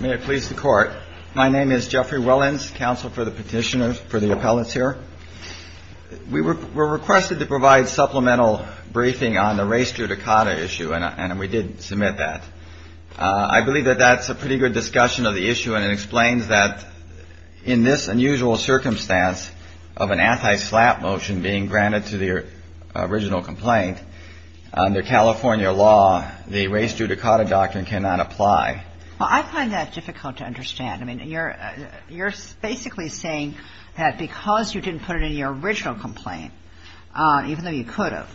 May it please the Court, my name is Jeffrey Wellens, counsel for the petitioners, for the appellates here. We were requested to provide supplemental briefing on the race judicata issue, and we did submit that. I believe that that's a pretty good discussion of the issue, and it explains that in this unusual circumstance of an anti-SLAPP motion being granted to the original complaint, under California law, the race judicata doctrine cannot apply. Well, I find that difficult to understand. I mean, you're basically saying that because you didn't put it in your original complaint, even though you could have,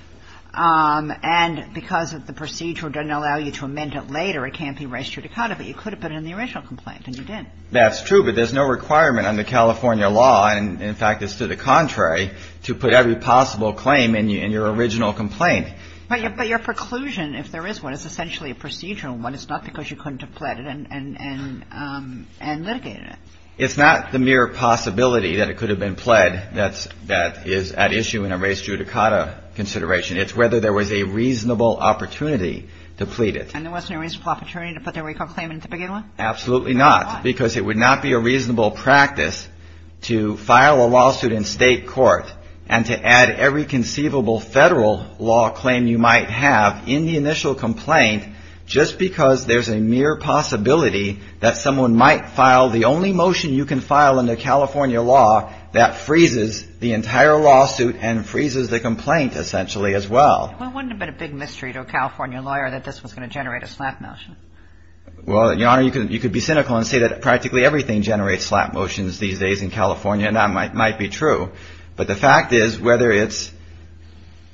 and because the procedure doesn't allow you to amend it later, it can't be race judicata, but you could have put it in the original complaint, and you didn't. That's true, but there's no requirement under California law, and in fact it's to the contrary, to put every possible claim in your original complaint. But your preclusion, if there is one, is essentially a procedural one. It's not because you couldn't have pled it and litigated it. It's not the mere possibility that it could have been pled that is at issue in a race judicata consideration. It's whether there was a reasonable opportunity to plead it. And there wasn't a reasonable opportunity to put the recall claim in the beginning one? Absolutely not, because it would not be a reasonable practice to file a lawsuit in state court and to add every conceivable federal law claim you might have in the initial complaint, just because there's a mere possibility that someone might file the only motion you can file under California law that freezes the entire lawsuit and freezes the complaint essentially as well. Well, wouldn't it have been a big mystery to a California lawyer that this was going to generate a slap motion? Well, Your Honor, you could be cynical and say that practically everything generates slap motions these days in California, and that might be true. But the fact is, whether it's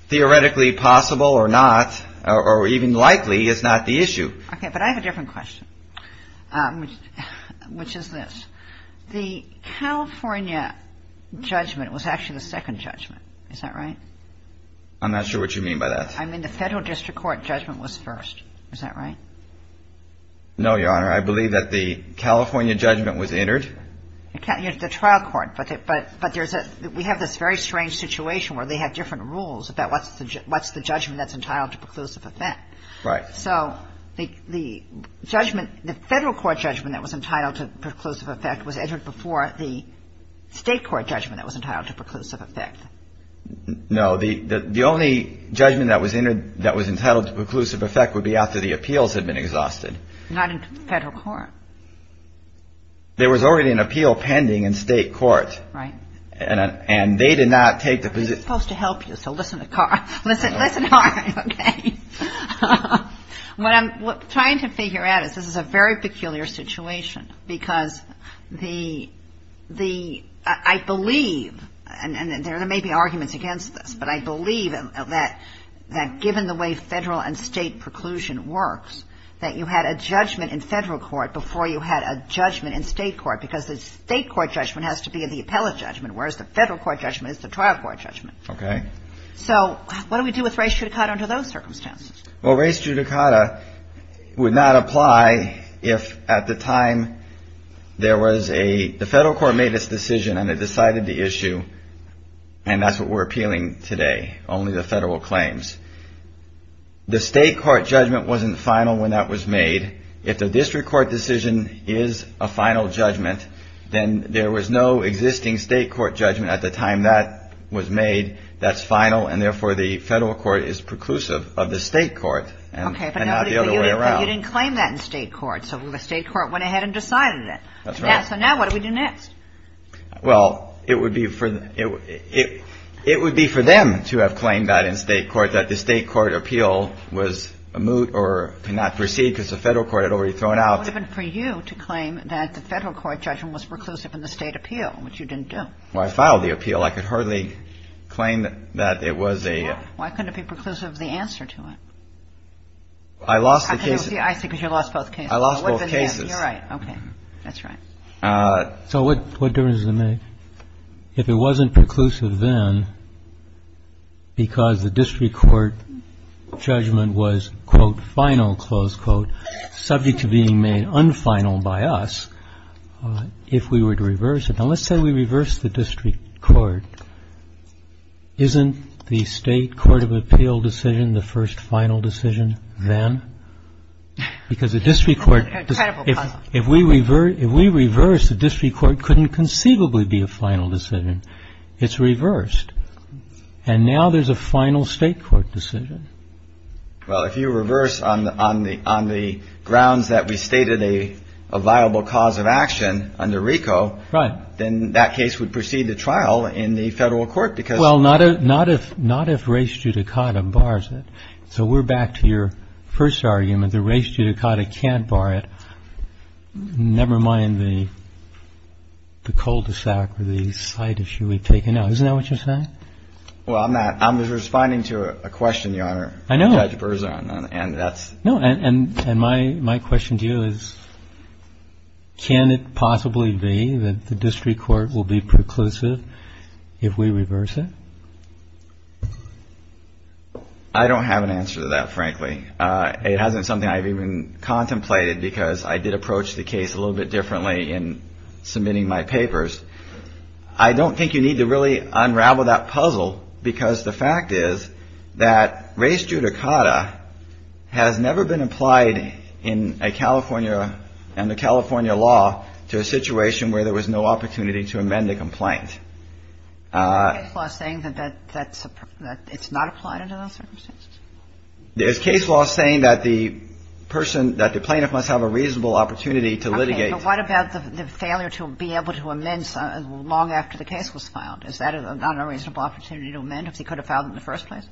theoretically possible or not, or even likely, is not the issue. Okay, but I have a different question, which is this. The California judgment was actually the second judgment. Is that right? I'm not sure what you mean by that. I mean the federal district court judgment was first. Is that right? No, Your Honor. I believe that the California judgment was entered. The trial court. But there's a – we have this very strange situation where they have different rules about what's the judgment that's entitled to preclusive effect. Right. So the judgment – the federal court judgment that was entitled to preclusive effect was entered before the state court judgment that was entitled to preclusive effect. No, the only judgment that was entitled to preclusive effect would be after the appeals had been exhausted. Not in federal court. There was already an appeal pending in state court. Right. And they did not take the – I'm supposed to help you, so listen to Carl. Listen to Carl, okay? What I'm trying to figure out is this is a very peculiar situation, because the – I believe, and there may be arguments against this, but I believe that given the way federal and state preclusion works, that you had a judgment in federal court before you had a judgment in state court, because the state court judgment has to be in the appellate judgment, whereas the federal court judgment is the trial court judgment. Okay. So what do we do with res judicata under those circumstances? Well, res judicata would not apply if at the time there was a – the federal court made its decision and it decided the issue, and that's what we're appealing today, only the federal claims. The state court judgment wasn't final when that was made. If the district court decision is a final judgment, then there was no existing state court judgment at the time that was made that's final, and therefore the federal court is preclusive of the state court and not the other way around. Okay, but you didn't claim that in state court, so the state court went ahead and decided it. That's right. So now what do we do next? Well, it would be for – it would be for them to have claimed that in state court, that the state court appeal was moot or could not proceed because the federal court had already thrown out. It would have been for you to claim that the federal court judgment was preclusive in the state appeal, which you didn't do. Well, I filed the appeal. I could hardly claim that it was a – Why couldn't it be preclusive, the answer to it? I lost the case. I see, because you lost both cases. I lost both cases. You're right. Okay. That's right. So what difference does it make if it wasn't preclusive then because the district court judgment was, quote, final, close quote, subject to being made unfinal by us, if we were to reverse it? Now, let's say we reverse the district court. Isn't the state court of appeal decision the first final decision then? Because the district court – If we reverse, the district court couldn't conceivably be a final decision. It's reversed. And now there's a final state court decision. Well, if you reverse on the grounds that we stated a viable cause of action under RICO, then that case would proceed to trial in the federal court because – Well, not if race judicata bars it. So we're back to your first argument, that race judicata can't bar it, never mind the cul-de-sac or the side issue we've taken out. Isn't that what you're saying? Well, I'm not. I'm responding to a question, Your Honor, Judge Berzon, and that's – that the district court will be preclusive if we reverse it? I don't have an answer to that, frankly. It hasn't something I've even contemplated because I did approach the case a little bit differently in submitting my papers. I don't think you need to really unravel that puzzle because the fact is that race judicata has never been applied in a California – in a state where there was no opportunity to amend a complaint. Is there a case law saying that it's not applied under those circumstances? There's case law saying that the person – that the plaintiff must have a reasonable opportunity to litigate. Okay. But what about the failure to be able to amend long after the case was filed? Is that not a reasonable opportunity to amend if he could have filed in the first place?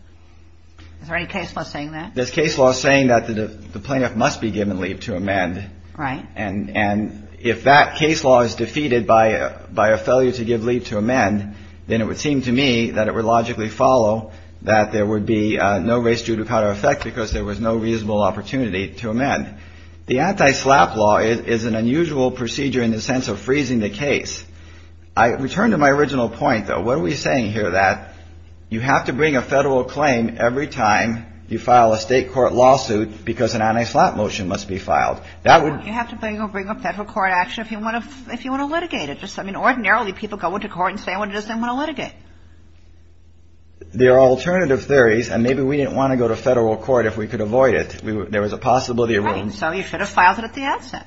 Is there any case law saying that? There's case law saying that the plaintiff must be given leave to amend. Right. And if that case law is defeated by a failure to give leave to amend, then it would seem to me that it would logically follow that there would be no race judicata effect because there was no reasonable opportunity to amend. The anti-SLAPP law is an unusual procedure in the sense of freezing the case. I return to my original point, though. What are we saying here that you have to bring a federal claim every time you file a state court lawsuit because an anti-SLAPP motion must be filed? You have to bring up federal court action if you want to litigate it. I mean, ordinarily, people go into court and say, I just didn't want to litigate. There are alternative theories, and maybe we didn't want to go to federal court if we could avoid it. There was a possibility of – Right. So you should have filed it at the outset.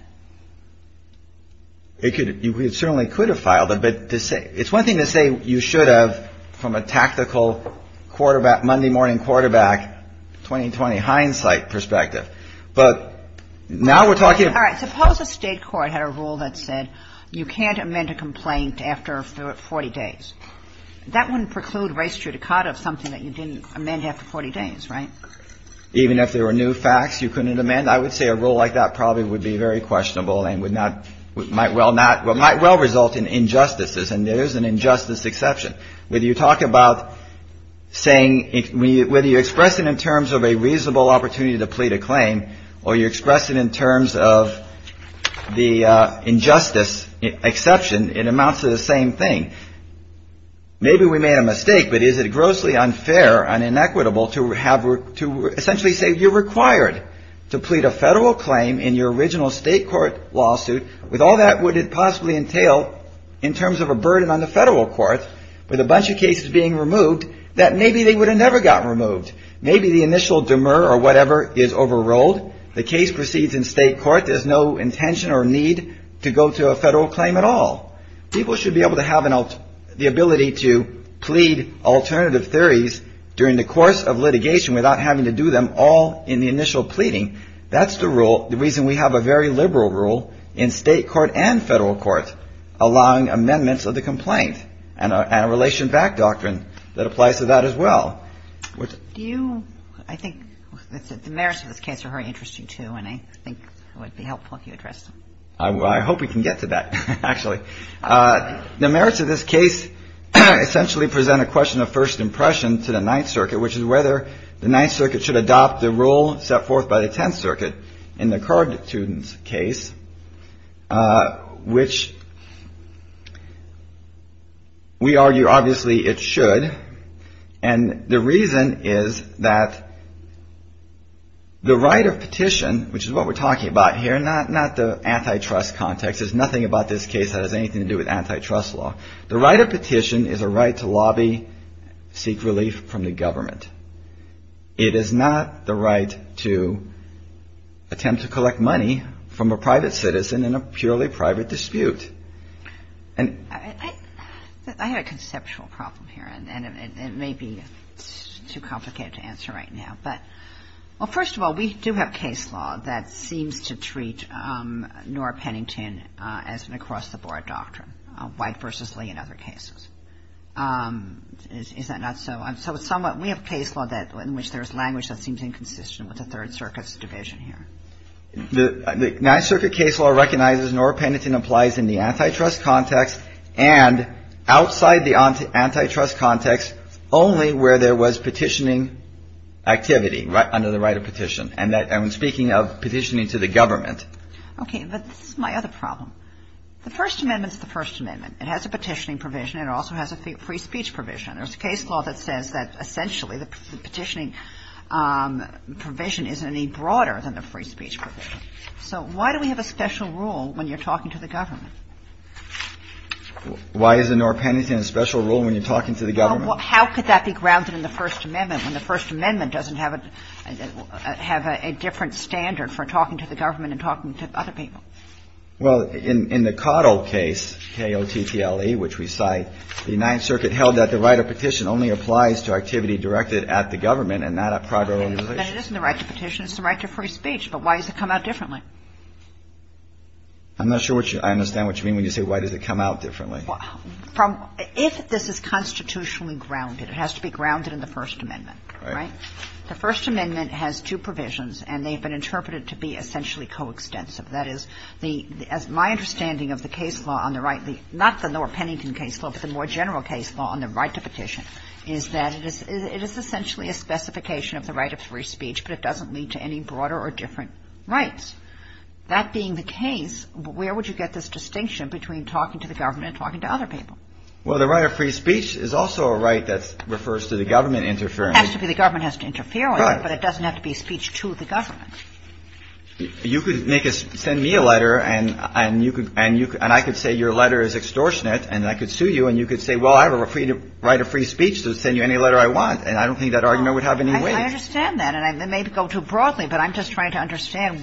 You certainly could have filed it. But it's one thing to say you should have from a tactical quarterback, Monday morning quarterback, 2020 hindsight perspective. But now we're talking about – All right. Suppose a state court had a rule that said you can't amend a complaint after 40 days. That wouldn't preclude race judicata of something that you didn't amend after 40 days, right? Even if there were new facts you couldn't amend? I would say a rule like that probably would be very questionable and would not – might well not – might well result in injustices. And there is an injustice exception. Whether you talk about saying – whether you express it in terms of a reasonable opportunity to plead a claim or you express it in terms of the injustice exception, it amounts to the same thing. Maybe we made a mistake, but is it grossly unfair and inequitable to have – to essentially say you're required to plead a federal claim in your original state court lawsuit with all that would it possibly entail in terms of a burden on the federal court? With a bunch of cases being removed that maybe they would have never gotten removed. Maybe the initial demur or whatever is overruled. The case proceeds in state court. There's no intention or need to go to a federal claim at all. People should be able to have the ability to plead alternative theories during the course of litigation without having to do them all in the initial pleading. That's the rule – the reason we have a very liberal rule in state court and federal court allowing amendments of the complaint and a relation back doctrine that applies to that as well. Do you – I think the merits of this case are very interesting, too, and I think it would be helpful if you addressed them. I hope we can get to that, actually. The merits of this case essentially present a question of first impression to the Ninth Circuit, which is whether the Ninth Circuit should adopt the rule set forth by the Tenth Circuit in the Curd students' case, which we argue obviously it should. And the reason is that the right of petition, which is what we're talking about here, not the antitrust context. There's nothing about this case that has anything to do with antitrust law. The right of petition is a right to lobby, seek relief from the government. It is not the right to attempt to collect money from a private citizen in a purely private dispute. I have a conceptual problem here, and it may be too complicated to answer right now. But, well, first of all, we do have case law that seems to treat Nora Pennington as an across-the-board doctrine, White v. Lee in other cases. Is that not so? So we have case law in which there's language that seems inconsistent with the Third Circuit's division here. The Ninth Circuit case law recognizes Nora Pennington applies in the antitrust context and outside the antitrust context only where there was petitioning activity under the right of petition. And I'm speaking of petitioning to the government. Okay. But this is my other problem. The First Amendment is the First Amendment. It has a petitioning provision. It also has a free speech provision. There's a case law that says that essentially the petitioning provision is any broader than the free speech provision. So why do we have a special rule when you're talking to the government? Why is Nora Pennington a special rule when you're talking to the government? How could that be grounded in the First Amendment when the First Amendment doesn't have a different standard for talking to the government and talking to other people? Well, in the Cottle case, K-O-T-T-L-E, which we cite, the Ninth Circuit held that the right of petition only applies to activity directed at the government and not at private organizations. But it isn't the right to petition. It's the right to free speech. But why does it come out differently? I'm not sure I understand what you mean when you say why does it come out differently. If this is constitutionally grounded, it has to be grounded in the First Amendment. Right. The First Amendment has two provisions, and they've been interpreted to be essentially coextensive. That is, my understanding of the case law on the right, not the Nora Pennington case law, but the more general case law on the right to petition, is that it is essentially a specification of the right of free speech, but it doesn't lead to any broader or different rights. That being the case, where would you get this distinction between talking to the government and talking to other people? Well, the right of free speech is also a right that refers to the government interfering. It has to be the government has to interfere with it, but it doesn't have to be speech to the government. You could make a – send me a letter, and you could – and I could say your letter is extortionate, and I could sue you, and you could say, well, I have a right of free speech to send you any letter I want. And I don't think that argument would have any weight. I understand that. And I may go too broadly, but I'm just trying to understand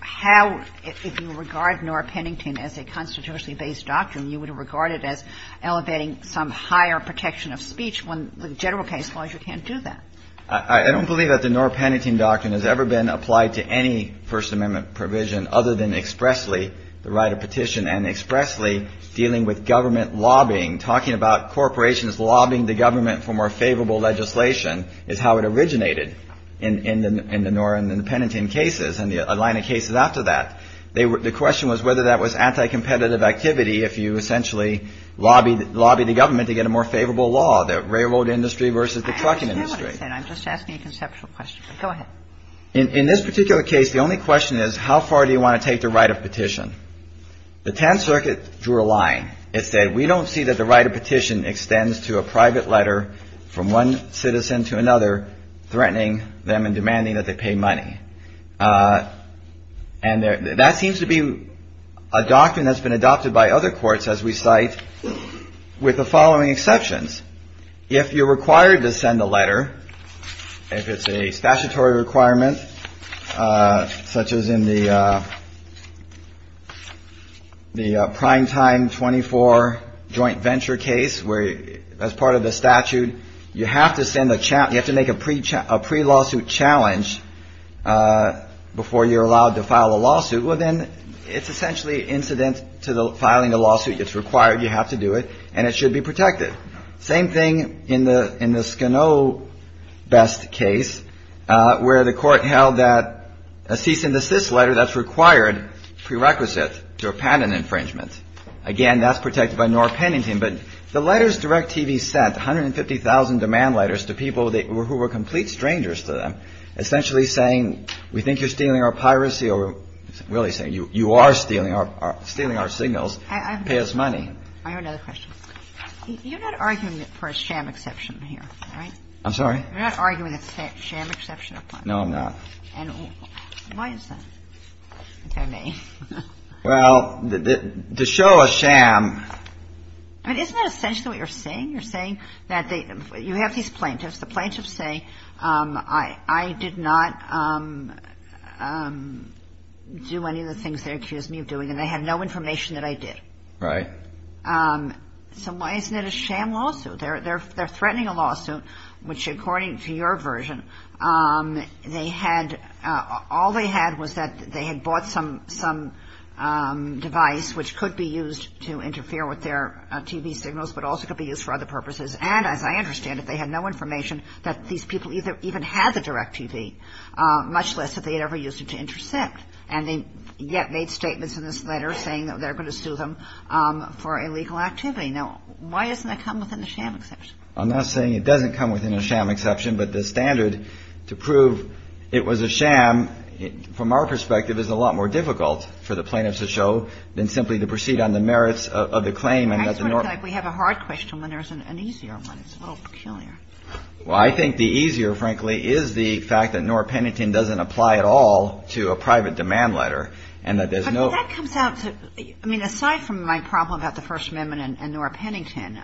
how, if you regard Nora Pennington as a constitutionally based doctrine, you would regard it as elevating some higher protection of speech when the general case law, you can't do that. I don't believe that the Nora Pennington doctrine has ever been applied to any First Amendment provision other than expressly the right of petition and expressly dealing with government lobbying. Talking about corporations lobbying the government for more favorable legislation is how it originated in the Nora and the Pennington cases and a line of cases after that. The question was whether that was anti-competitive activity if you essentially lobbied the government to get a more favorable law, the railroad industry versus the trucking industry. And I'm just asking a conceptual question. Go ahead. In this particular case, the only question is how far do you want to take the right of petition? The Tenth Circuit drew a line. It said, we don't see that the right of petition extends to a private letter from one citizen to another, threatening them and demanding that they pay money. And that seems to be a doctrine that's been adopted by other courts, as we cite, with the following exceptions. If you're required to send a letter, if it's a statutory requirement, such as in the primetime 24 joint venture case, where as part of the statute, you have to send a challenge, you have to make a pre-lawsuit challenge before you're allowed to file a lawsuit. Well, then it's essentially incident to filing a lawsuit. It's required. You have to do it. And it should be protected. Same thing in the Skano best case, where the court held that a cease and desist letter that's required prerequisite to a patent infringement. Again, that's protected by Norah Pennington. But the letters Direct TV sent, 150,000 demand letters to people who were complete strangers to them, essentially saying, we think you're stealing our piracy, or really saying you are stealing our signals. Pay us money. That's pretty much it. I think it's a good way to do it. Thank you. I have another question. You're not arguing for a sham exception here, right? I'm sorry? You're not arguing a sham exception? No, I'm not. And why is that? I think I may. Well, to show a sham. Isn't that essentially what you're saying? You're saying that you have these plaintiffs. The plaintiffs say, I did not do any of the things they accused me of doing, and they had no information that I did. Right. So why isn't it a sham lawsuit? They're threatening a lawsuit, which, according to your version, they had all they had was that they had bought some device, which could be used to interfere with their TV signals, but also could be used for other purposes. And, as I understand it, they had no information that these people even had the direct TV, much less that they had ever used it to intercept. And they yet made statements in this letter saying that they're going to sue them for illegal activity. Now, why doesn't that come within the sham exception? I'm not saying it doesn't come within a sham exception, but the standard to prove it was a sham, from our perspective, is a lot more difficult for the plaintiffs to show than simply to proceed on the merits of the claim. I sort of feel like we have a hard question when there's an easier one. It's a little peculiar. Well, I think the easier, frankly, is the fact that Nora Pennington doesn't apply at all to a private demand letter and that there's no – But that comes out to – I mean, aside from my problem about the First Amendment and Nora Pennington,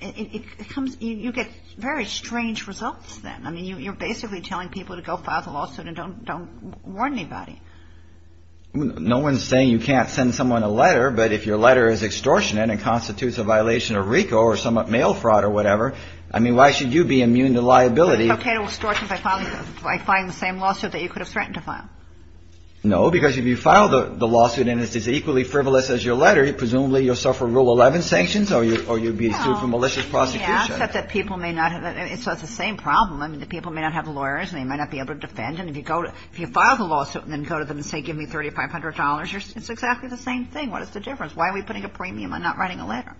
it comes – you get very strange results then. I mean, you're basically telling people to go file the lawsuit and don't warn anybody. No one's saying you can't send someone a letter. But if your letter is extortionate and constitutes a violation of RICO or some mail fraud or whatever, I mean, why should you be immune to liability? I think it's okay to extort by filing the same lawsuit that you could have threatened to file. No, because if you file the lawsuit and it's as equally frivolous as your letter, presumably you'll suffer Rule 11 sanctions or you'll be sued for malicious prosecution. So it's the same problem. I mean, the people may not have lawyers and they might not be able to defend. And if you file the lawsuit and then go to them and say, give me $3,500, it's exactly the same thing. What is the difference? Why are we putting a premium on not writing a letter?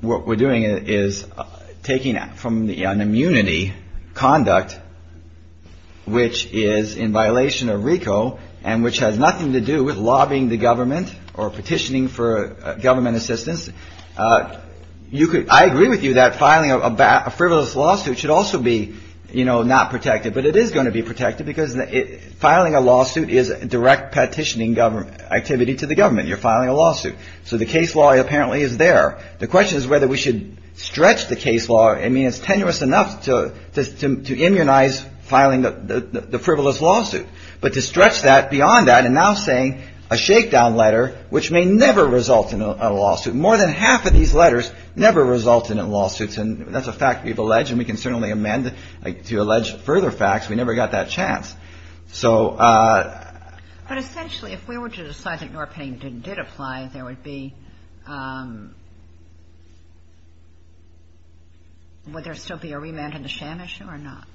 What we're doing is taking from an immunity conduct which is in violation of RICO and which has nothing to do with lobbying the government or petitioning for government assistance. I agree with you that filing a frivolous lawsuit should also be not protected. But it is going to be protected because filing a lawsuit is direct petitioning activity to the government. You're filing a lawsuit. So the case law apparently is there. The question is whether we should stretch the case law. I mean, it's tenuous enough to immunize filing the frivolous lawsuit. But to stretch that beyond that and now saying a shakedown letter which may never result in a lawsuit. More than half of these letters never result in lawsuits. And that's a fact we've alleged. And we can certainly amend it to allege further facts. We never got that chance. So ‑‑ But essentially, if we were to decide that Norpinning did apply, there would be ‑‑ would there still be a remand in the sham issue or not?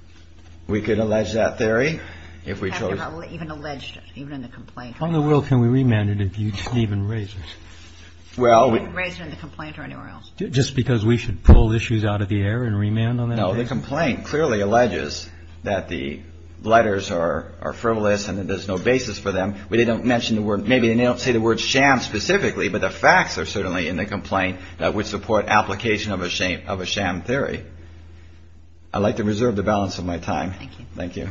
We could allege that theory if we chose. Even in the complaint. How in the world can we remand it if you didn't even raise it? Well, we ‑‑ You didn't raise it in the complaint or anywhere else? Just because we should pull issues out of the air and remand on that case? No, the complaint clearly alleges that the letters are frivolous and that there's no basis for them. We didn't mention the word ‑‑ maybe they don't say the word sham specifically, but the facts are certainly in the complaint that would support application of a sham theory. I'd like to reserve the balance of my time. Thank you.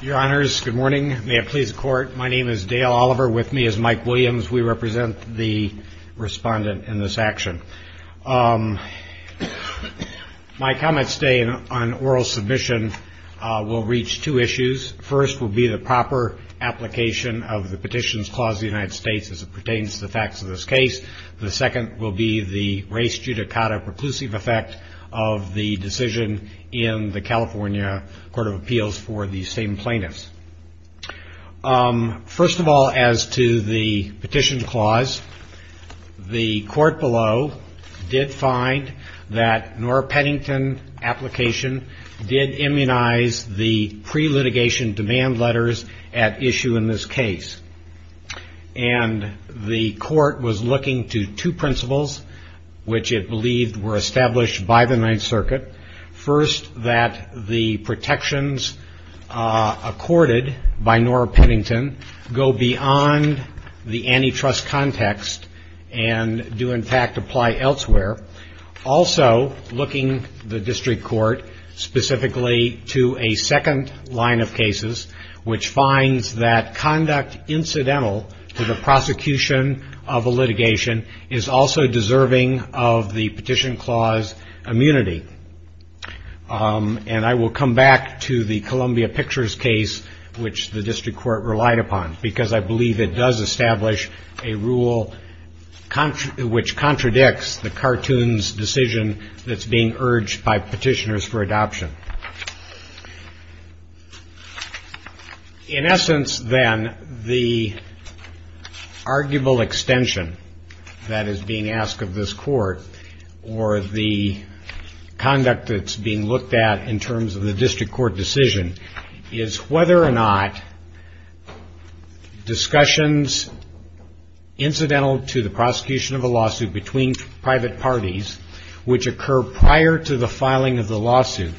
Your Honors, good morning. May it please the Court. My name is Dale Oliver. With me is Mike Williams. We represent the respondent in this action. My comments today on oral submission will reach two issues. The first will be the proper application of the Petitions Clause of the United States as it pertains to the facts of this case. The second will be the race judicata preclusive effect of the decision in the California Court of Appeals for the same plaintiffs. First of all, as to the Petition Clause, the Court below did find that Nora Pennington application did immunize the pre-litigation demand letters at issue in this case. And the Court was looking to two principles, which it believed were established by the Ninth Circuit. First, that the protections accorded by Nora Pennington go beyond the antitrust context, and do in fact apply elsewhere. Also, looking the District Court specifically to a second line of cases, which finds that conduct incidental to the prosecution of a litigation is also deserving of the Petition Clause immunity. And I will come back to the Columbia Pictures case, which the District Court relied upon, because I believe it does establish a rule which contradicts the cartoons decision that's being urged by petitioners for adoption. In essence, then, the arguable extension that is being asked of this Court, or the conduct that's being looked at in terms of the District Court decision, is whether or not discussions incidental to the prosecution of a lawsuit between private parties, which occur prior to the filing of the lawsuit,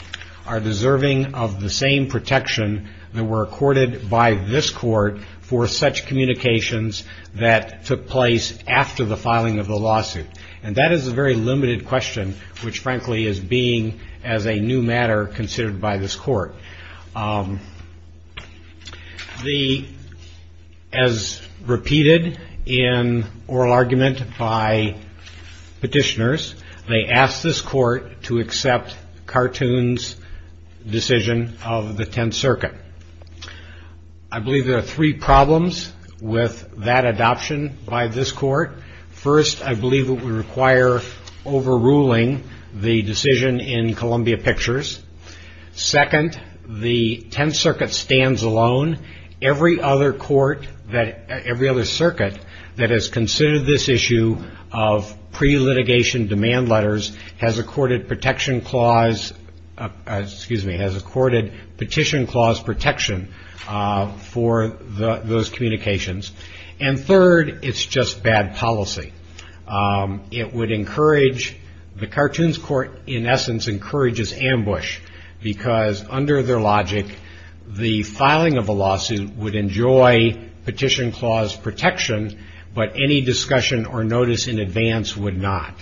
are deserving of the same protection that were accorded by this Court for such communications that took place after the filing of the lawsuit. And that is a very limited question, which frankly is being, as a new matter, considered by this Court. As repeated in oral argument by petitioners, they asked this Court to accept cartoons decision of the Tenth Circuit. I believe there are three problems with that adoption by this Court. First, I believe it would require overruling the decision in Columbia Pictures. Second, the Tenth Circuit stands alone. Every other court, every other circuit that has considered this issue of pre-litigation demand letters has accorded Petition Clause protection for those communications. And third, it's just bad policy. It would encourage, the Cartoons Court, in essence, encourages ambush, because under their logic, the filing of a lawsuit would enjoy Petition Clause protection, but any discussion or notice in advance would not.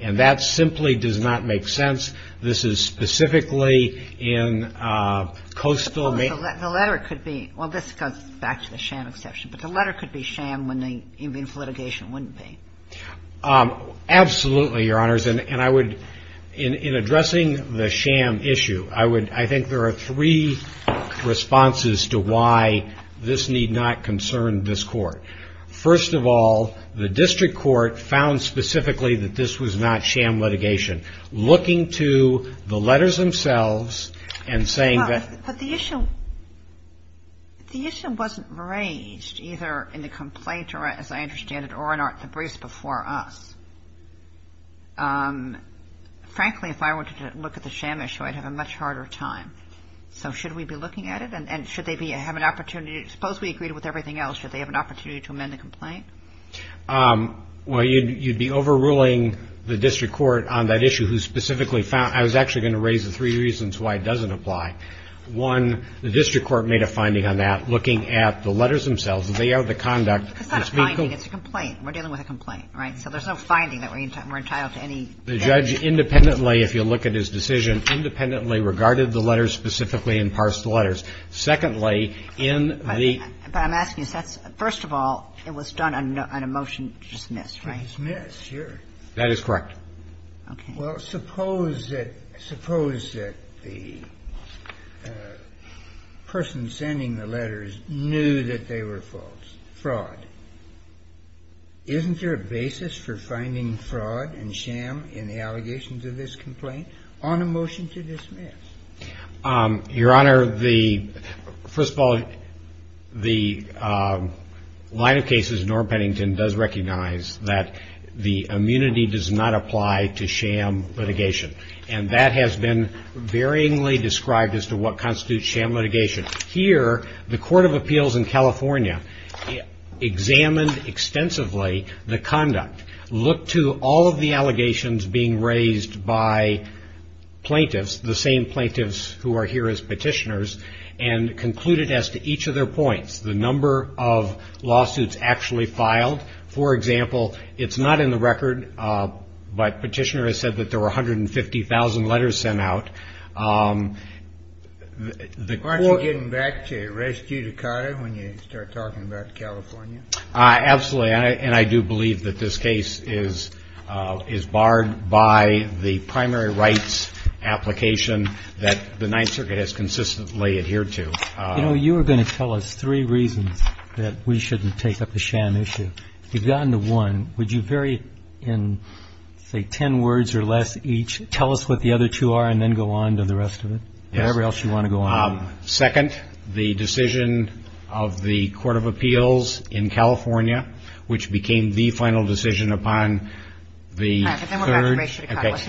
And that simply does not make sense. The letter could be, well, this goes back to the sham exception, but the letter could be sham when the inviolable litigation wouldn't be. Absolutely, Your Honors, and I would, in addressing the sham issue, I would, I think there are three responses to why this need not concern this Court. First of all, the District Court found specifically that this was not sham litigation. Looking to the letters themselves and saying that... But the issue wasn't raised either in the complaint or, as I understand it, or in the briefs before us. Frankly, if I were to look at the sham issue, I'd have a much harder time. So should we be looking at it, and should they have an opportunity, suppose we agreed with everything else, should they have an opportunity to amend the complaint? Well, you'd be overruling the District Court on that issue, who specifically found – I was actually going to raise the three reasons why it doesn't apply. One, the District Court made a finding on that, looking at the letters themselves, the layout of the conduct. It's not a finding. It's a complaint. We're dealing with a complaint, right? So there's no finding that we're entitled to any... The judge independently, if you look at his decision, independently regarded the letters specifically and parsed the letters. Secondly, in the... But I'm asking, first of all, it was done on a motion to dismiss, right? To dismiss, sure. That is correct. Okay. Well, suppose that the person sending the letters knew that they were false, fraud. Isn't there a basis for finding fraud and sham in the allegations of this complaint on a motion to dismiss? Your Honor, the... First of all, the line of cases, Norm Pennington does recognize that the immunity does not apply to sham litigation. And that has been varyingly described as to what constitutes sham litigation. Here, the Court of Appeals in California examined extensively the conduct, looked to all of the allegations being raised by plaintiffs, the same plaintiffs who are here as petitioners, and concluded as to each of their points the number of lawsuits actually filed. For example, it's not in the record, but Petitioner has said that there were 150,000 letters sent out. Aren't you getting back to res judicata when you start talking about California? Absolutely. And I do believe that this case is barred by the primary rights application that the Ninth Circuit has consistently adhered to. You know, you were going to tell us three reasons that we shouldn't take up the sham issue. You've gotten to one. Would you very, in, say, ten words or less each, tell us what the other two are and then go on to the rest of it? Whatever else you want to go on. Second, the decision of the Court of Appeals in California, which became the final decision upon the third.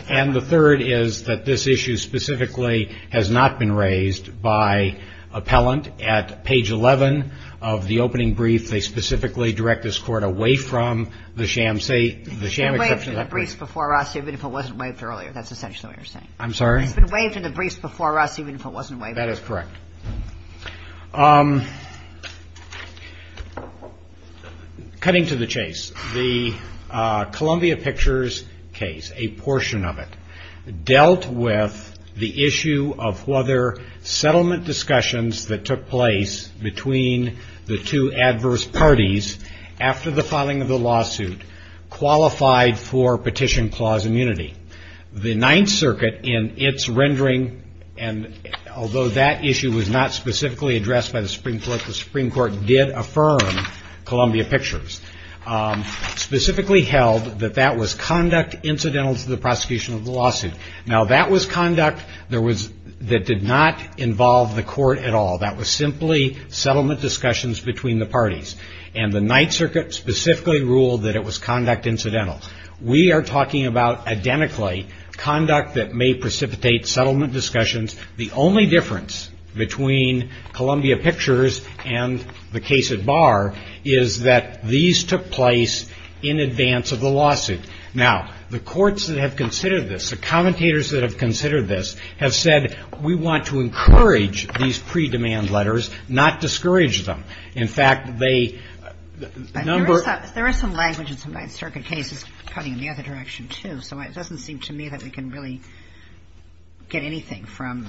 And the third is that this issue specifically has not been raised by appellant. At page 11 of the opening brief, they specifically direct this Court away from the sham exception. It's been waived in the briefs before us even if it wasn't waived earlier. That's essentially what you're saying. I'm sorry? It's been waived in the briefs before us even if it wasn't waived earlier. That is correct. Cutting to the chase, the Columbia Pictures case, a portion of it, dealt with the issue of whether settlement discussions that took place between the two adverse parties after the filing of the lawsuit qualified for petition clause immunity. The Ninth Circuit, in its rendering, and although that issue was not specifically addressed by the Supreme Court, the Supreme Court did affirm Columbia Pictures, specifically held that that was conduct incidental to the prosecution of the lawsuit. Now, that was conduct that did not involve the court at all. That was simply settlement discussions between the parties. And the Ninth Circuit specifically ruled that it was conduct incidental. We are talking about, identically, conduct that may precipitate settlement discussions. The only difference between Columbia Pictures and the case at bar is that these took place in advance of the lawsuit. Now, the courts that have considered this, the commentators that have considered this, have said, we want to encourage these pre-demand letters, not discourage them. In fact, they number them. Kagan in the other direction, too. So it doesn't seem to me that we can really get anything from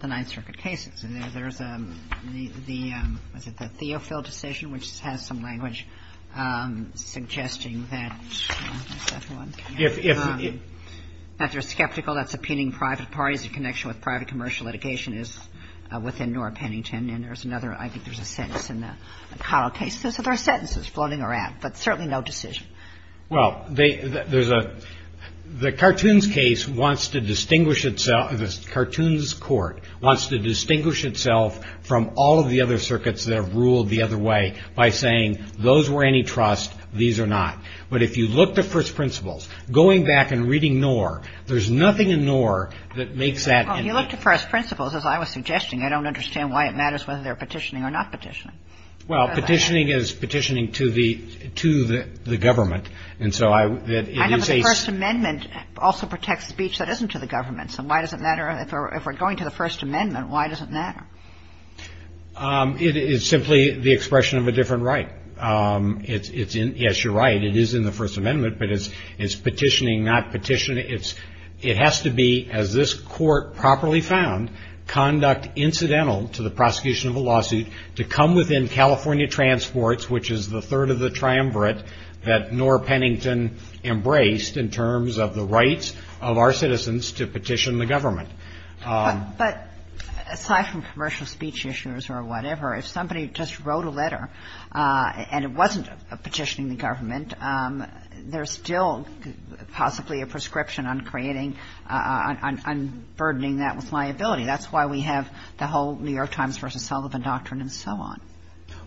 the Ninth Circuit cases. And there's the theo-fill decision, which has some language suggesting that if you're skeptical, that's opinion of the private parties in connection with private commercial litigation is within Nora Pennington. And there's another, I think there's a sentence in the Caro case, there's other sentences floating around, but certainly no decision. Well, they, there's a, the Cartoons case wants to distinguish itself, the Cartoons court wants to distinguish itself from all of the other circuits that have ruled the other way by saying those were antitrust, these are not. But if you look to first principles, going back and reading Nora, there's nothing in Nora that makes that. Well, if you look to first principles, as I was suggesting, I don't understand why it matters whether they're petitioning or not petitioning. Well, petitioning is petitioning to the, to the government. And so I, it is a. I know the First Amendment also protects speech that isn't to the government. So why does it matter, if we're going to the First Amendment, why does it matter? It is simply the expression of a different right. It's, it's in, yes, you're right, it is in the First Amendment, but it's, it's petitioning, not petitioning. It's, it has to be, as this Court properly found, conduct incidental to the prosecution of a lawsuit to come within California transports, which is the third of the triumvirate that Nora Pennington embraced in terms of the rights of our citizens to petition the government. But aside from commercial speech issues or whatever, if somebody just wrote a letter and it wasn't petitioning the government, there's still possibly a prescription on creating, on burdening that with liability. That's why we have the whole New York Times versus Sullivan doctrine and so on.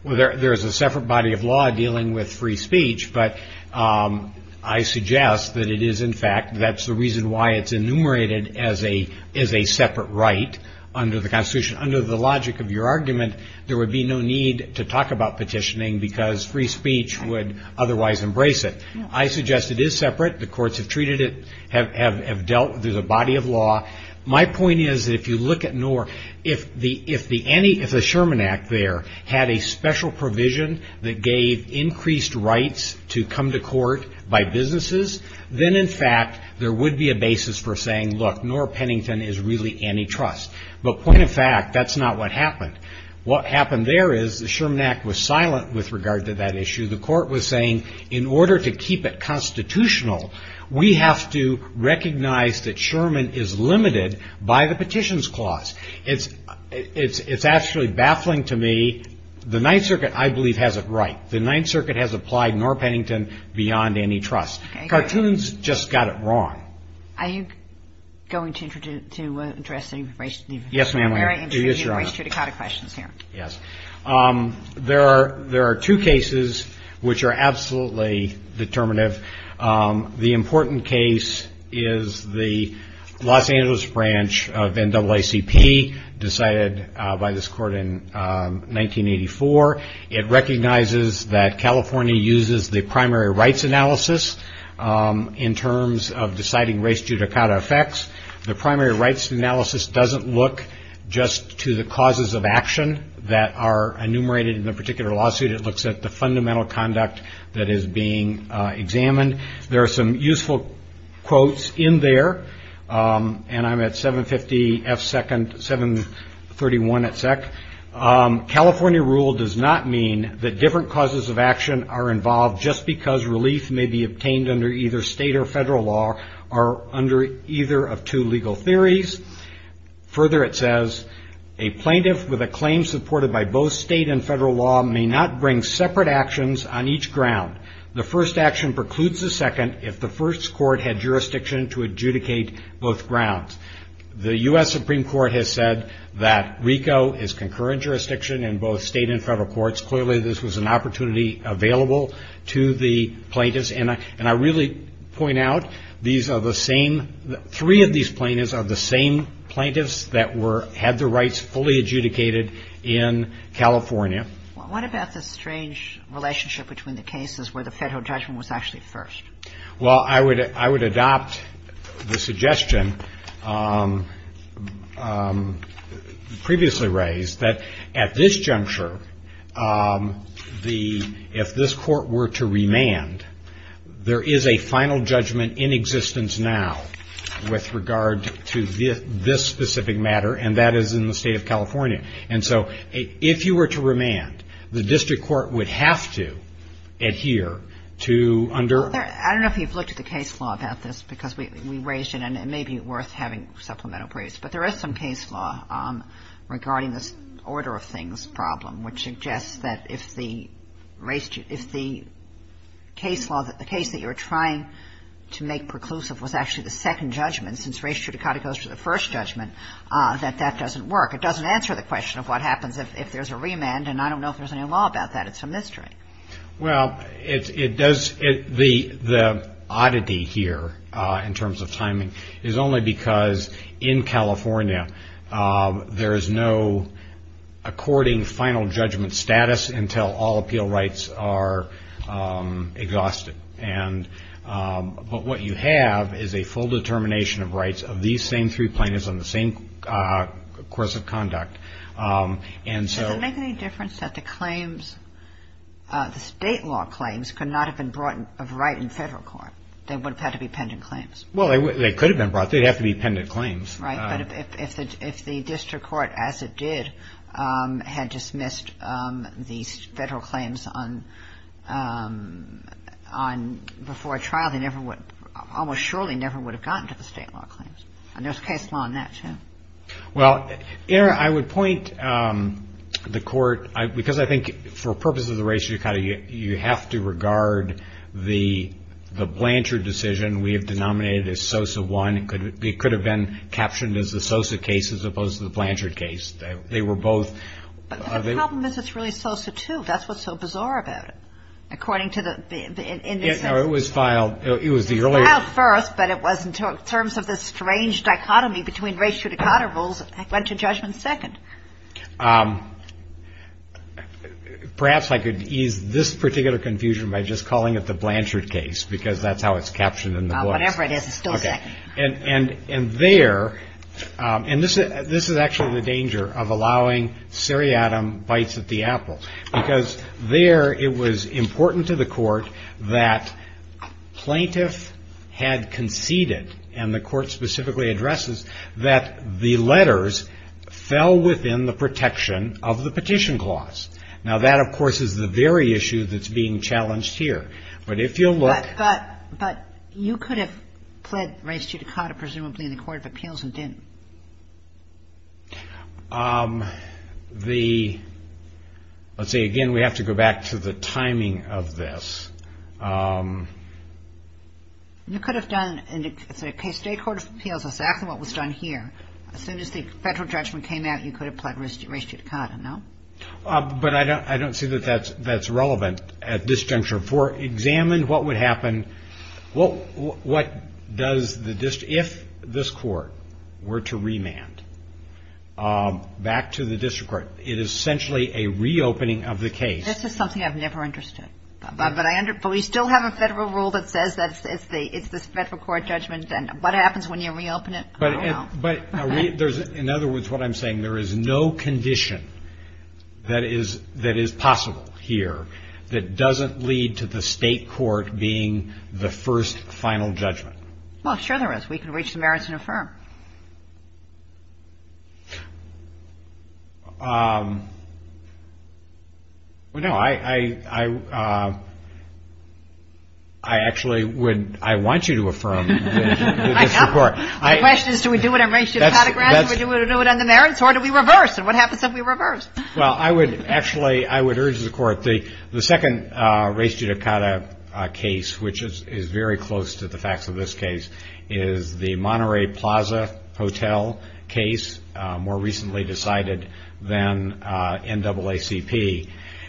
Well, there, there is a separate body of law dealing with free speech, but I suggest that it is in fact, that's the reason why it's enumerated as a, as a separate right under the Constitution. Under the logic of your argument, there would be no need to talk about petitioning because free speech would otherwise embrace it. I suggest it is separate. The courts have treated it, have, have, have dealt, there's a body of law. My point is that if you look at Nora, if the, if the any, if the Sherman Act there had a special provision that gave increased rights to come to court by businesses, then in fact there would be a basis for saying, look, Nora Pennington is really antitrust. But point of fact, that's not what happened. What happened there is the Sherman Act was silent with regard to that issue. The court was saying, in order to keep it constitutional, we have to recognize that Sherman is limited by the Petitions Clause. It's, it's, it's actually baffling to me. The Ninth Circuit, I believe, has it right. The Ninth Circuit has applied Nora Pennington beyond antitrust. Okay. Cartoons just got it wrong. Are you going to, to, to address any of the raised, any of the very interesting Yes, ma'am. raised judicata questions here. Yes. There are, there are two cases which are absolutely determinative. The important case is the Los Angeles branch of NAACP decided by this court in 1984. It recognizes that California uses the primary rights analysis in terms of deciding race judicata effects. The primary rights analysis doesn't look just to the causes of action that are enumerated in the particular lawsuit. It looks at the fundamental conduct that is being examined. There are some useful quotes in there, and I'm at 750 F second, 731 at SEC. California rule does not mean that different causes of action are involved just because relief may be obtained under either state or federal law or under either of two legal theories. Further, it says, a plaintiff with a claim supported by both state and federal law may not bring separate actions on each ground. The first action precludes the second if the first court had jurisdiction to adjudicate both grounds. The U.S. Supreme Court has said that RICO is concurrent jurisdiction in both state and federal courts. Clearly, this was an opportunity available to the plaintiffs. And I really point out, these are the same, three of these plaintiffs are the same plaintiffs that were, had the rights fully adjudicated in California. What about the strange relationship between the cases where the federal judgment was actually first? Well, I would adopt the suggestion previously raised that at this juncture, if this court were to remand, there is a final judgment in existence now with regard to this specific matter, and that is in the state of California. And so if you were to remand, the district court would have to adhere to under ---- I don't know if you've looked at the case law about this, because we raised it, and it may be worth having supplemental briefs. But there is some case law regarding this order of things problem, which suggests that if the case that you're trying to make preclusive was actually the second judgment, since race judicata goes to the first judgment, that that doesn't work. It doesn't answer the question of what happens if there's a remand, and I don't know if there's any law about that. It's a mystery. Well, the oddity here in terms of timing is only because in California, there is no according final judgment status until all appeal rights are exhausted. But what you have is a full determination of rights of these same three plaintiffs on the same course of conduct. And so ---- Does it make any difference that the claims, the state law claims could not have been brought of right in federal court? They would have had to be pendent claims. Well, they could have been brought. They'd have to be pendent claims. Right. But if the district court, as it did, had dismissed these federal claims before trial, they almost surely never would have gotten to the state law claims. And there's case law on that, too. Well, Erin, I would point the Court, because I think for purposes of race judicata, you have to regard the Blanchard decision we have as the Sosa case as opposed to the Blanchard case. They were both ---- But the problem is it's really Sosa, too. That's what's so bizarre about it, according to the ---- It was filed. It was the earlier ---- It was filed first, but it was in terms of the strange dichotomy between race judicata rules. It went to judgment second. Perhaps I could ease this particular confusion by just calling it the Blanchard case, because that's how it's captioned in the books. Whatever it is, it's still second. And there ---- and this is actually the danger of allowing seriatim bites at the apple, because there it was important to the Court that plaintiff had conceded, and the Court specifically addresses, that the letters fell within the protection of the petition clause. Now, that, of course, is the very issue that's being challenged here. But if you look ---- But you could have pled race judicata, presumably, in the Court of Appeals and didn't. The ---- let's see. Again, we have to go back to the timing of this. You could have done, in the case of the State Court of Appeals, exactly what was done here. As soon as the federal judgment came out, you could have pled race judicata, no? But I don't see that that's relevant at this juncture. For examined, what would happen, what does the district ---- if this Court were to remand back to the district court, it is essentially a reopening of the case. This is something I've never understood. But we still have a federal rule that says that it's the federal court judgment, and what happens when you reopen it? I don't know. In other words, what I'm saying, there is no condition that is possible here that doesn't lead to the State Court being the first, final judgment. Well, sure there is. I mean, I don't know if we can reach the merits and affirm. Well, no. I actually would ---- I want you to affirm this report. My question is, do we do it on race judicata grounds, or do we do it on the merits, or do we reverse, and what happens if we reverse? Well, I would actually ---- I would urge the Court. The second race judicata case, which is very close to the facts of this case, is the Monterey Plaza Hotel case, more recently decided than NAACP.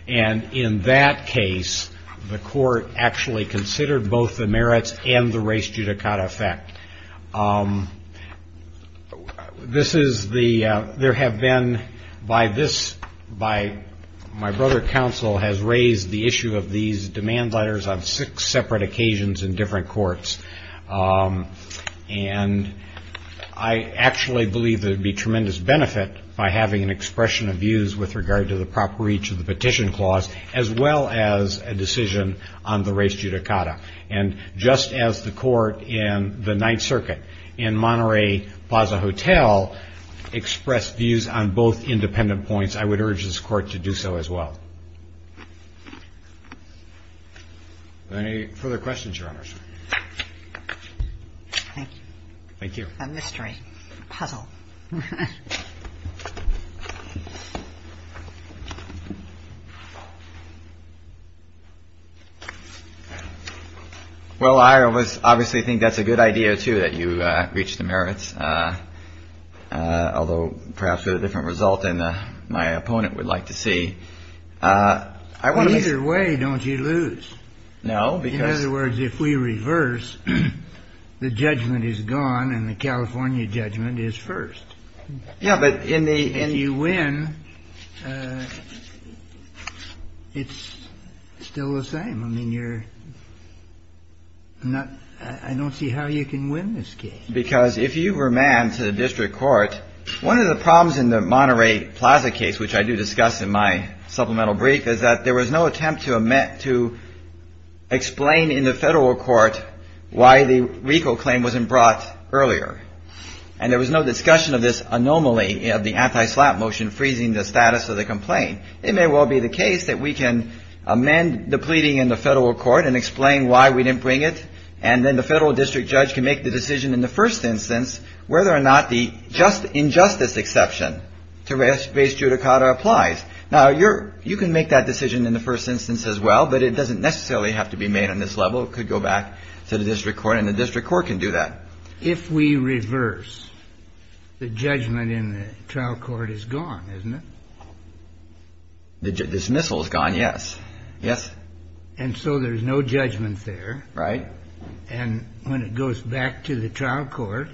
And in that case, the Court actually considered both the merits and the race judicata effect. This is the ---- there have been, by this, by ---- my brother counsel has raised the issue of these demand letters on six separate occasions in different courts. And I actually believe there would be tremendous benefit by having an expression of views with regard to the proper reach of the petition clause, as well as a decision on the race judicata. And just as the Court in the Ninth Circuit in Monterey Plaza Hotel expressed views on both independent points, I would urge this Court to do so as well. Are there any further questions, Your Honors? Thank you. Well, I obviously think that's a good idea, too, that you reach the merits, although perhaps with a different result than my opponent would like to see. Either way, don't you lose? No, because ---- In other words, if we reverse, the judgment is gone and the California judgment is first. Yeah, but in the ---- I don't see how you can win this case. Because if you remand to the district court, one of the problems in the Monterey Plaza case, which I do discuss in my supplemental brief, is that there was no attempt to explain in the Federal court why the RICO claim wasn't brought earlier. And there was no discussion of this anomaly of the anti-slap motion freezing the status of the complaint. It may well be the case that we can amend the pleading in the Federal court and explain why we didn't bring it, and then the Federal district judge can make the decision in the first instance whether or not the injustice exception to base judicata applies. Now, you can make that decision in the first instance as well, but it doesn't necessarily have to be made on this level. It could go back to the district court, and the district court can do that. If we reverse, the judgment in the trial court is gone, isn't it? The dismissal is gone, yes. Yes? And so there's no judgment there. Right. And when it goes back to the trial court,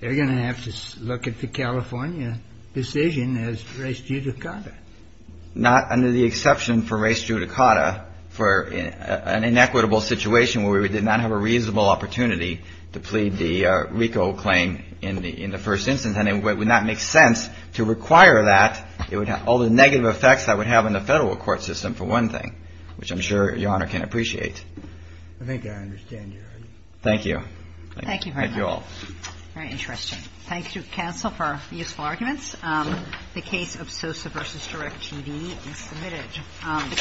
they're going to have to look at the California decision as race judicata. Not under the exception for race judicata for an inequitable situation where we did not have a reasonable opportunity to plead the RICO claim in the first instance. And it would not make sense to require that. It would have all the negative effects that would have in the Federal court system, for one thing, which I'm sure Your Honor can appreciate. I think I understand your argument. Thank you. Thank you, Your Honor. Thank you all. Very interesting. Thank you, counsel, for useful arguments. The case of Sosa v. Direct TV is submitted.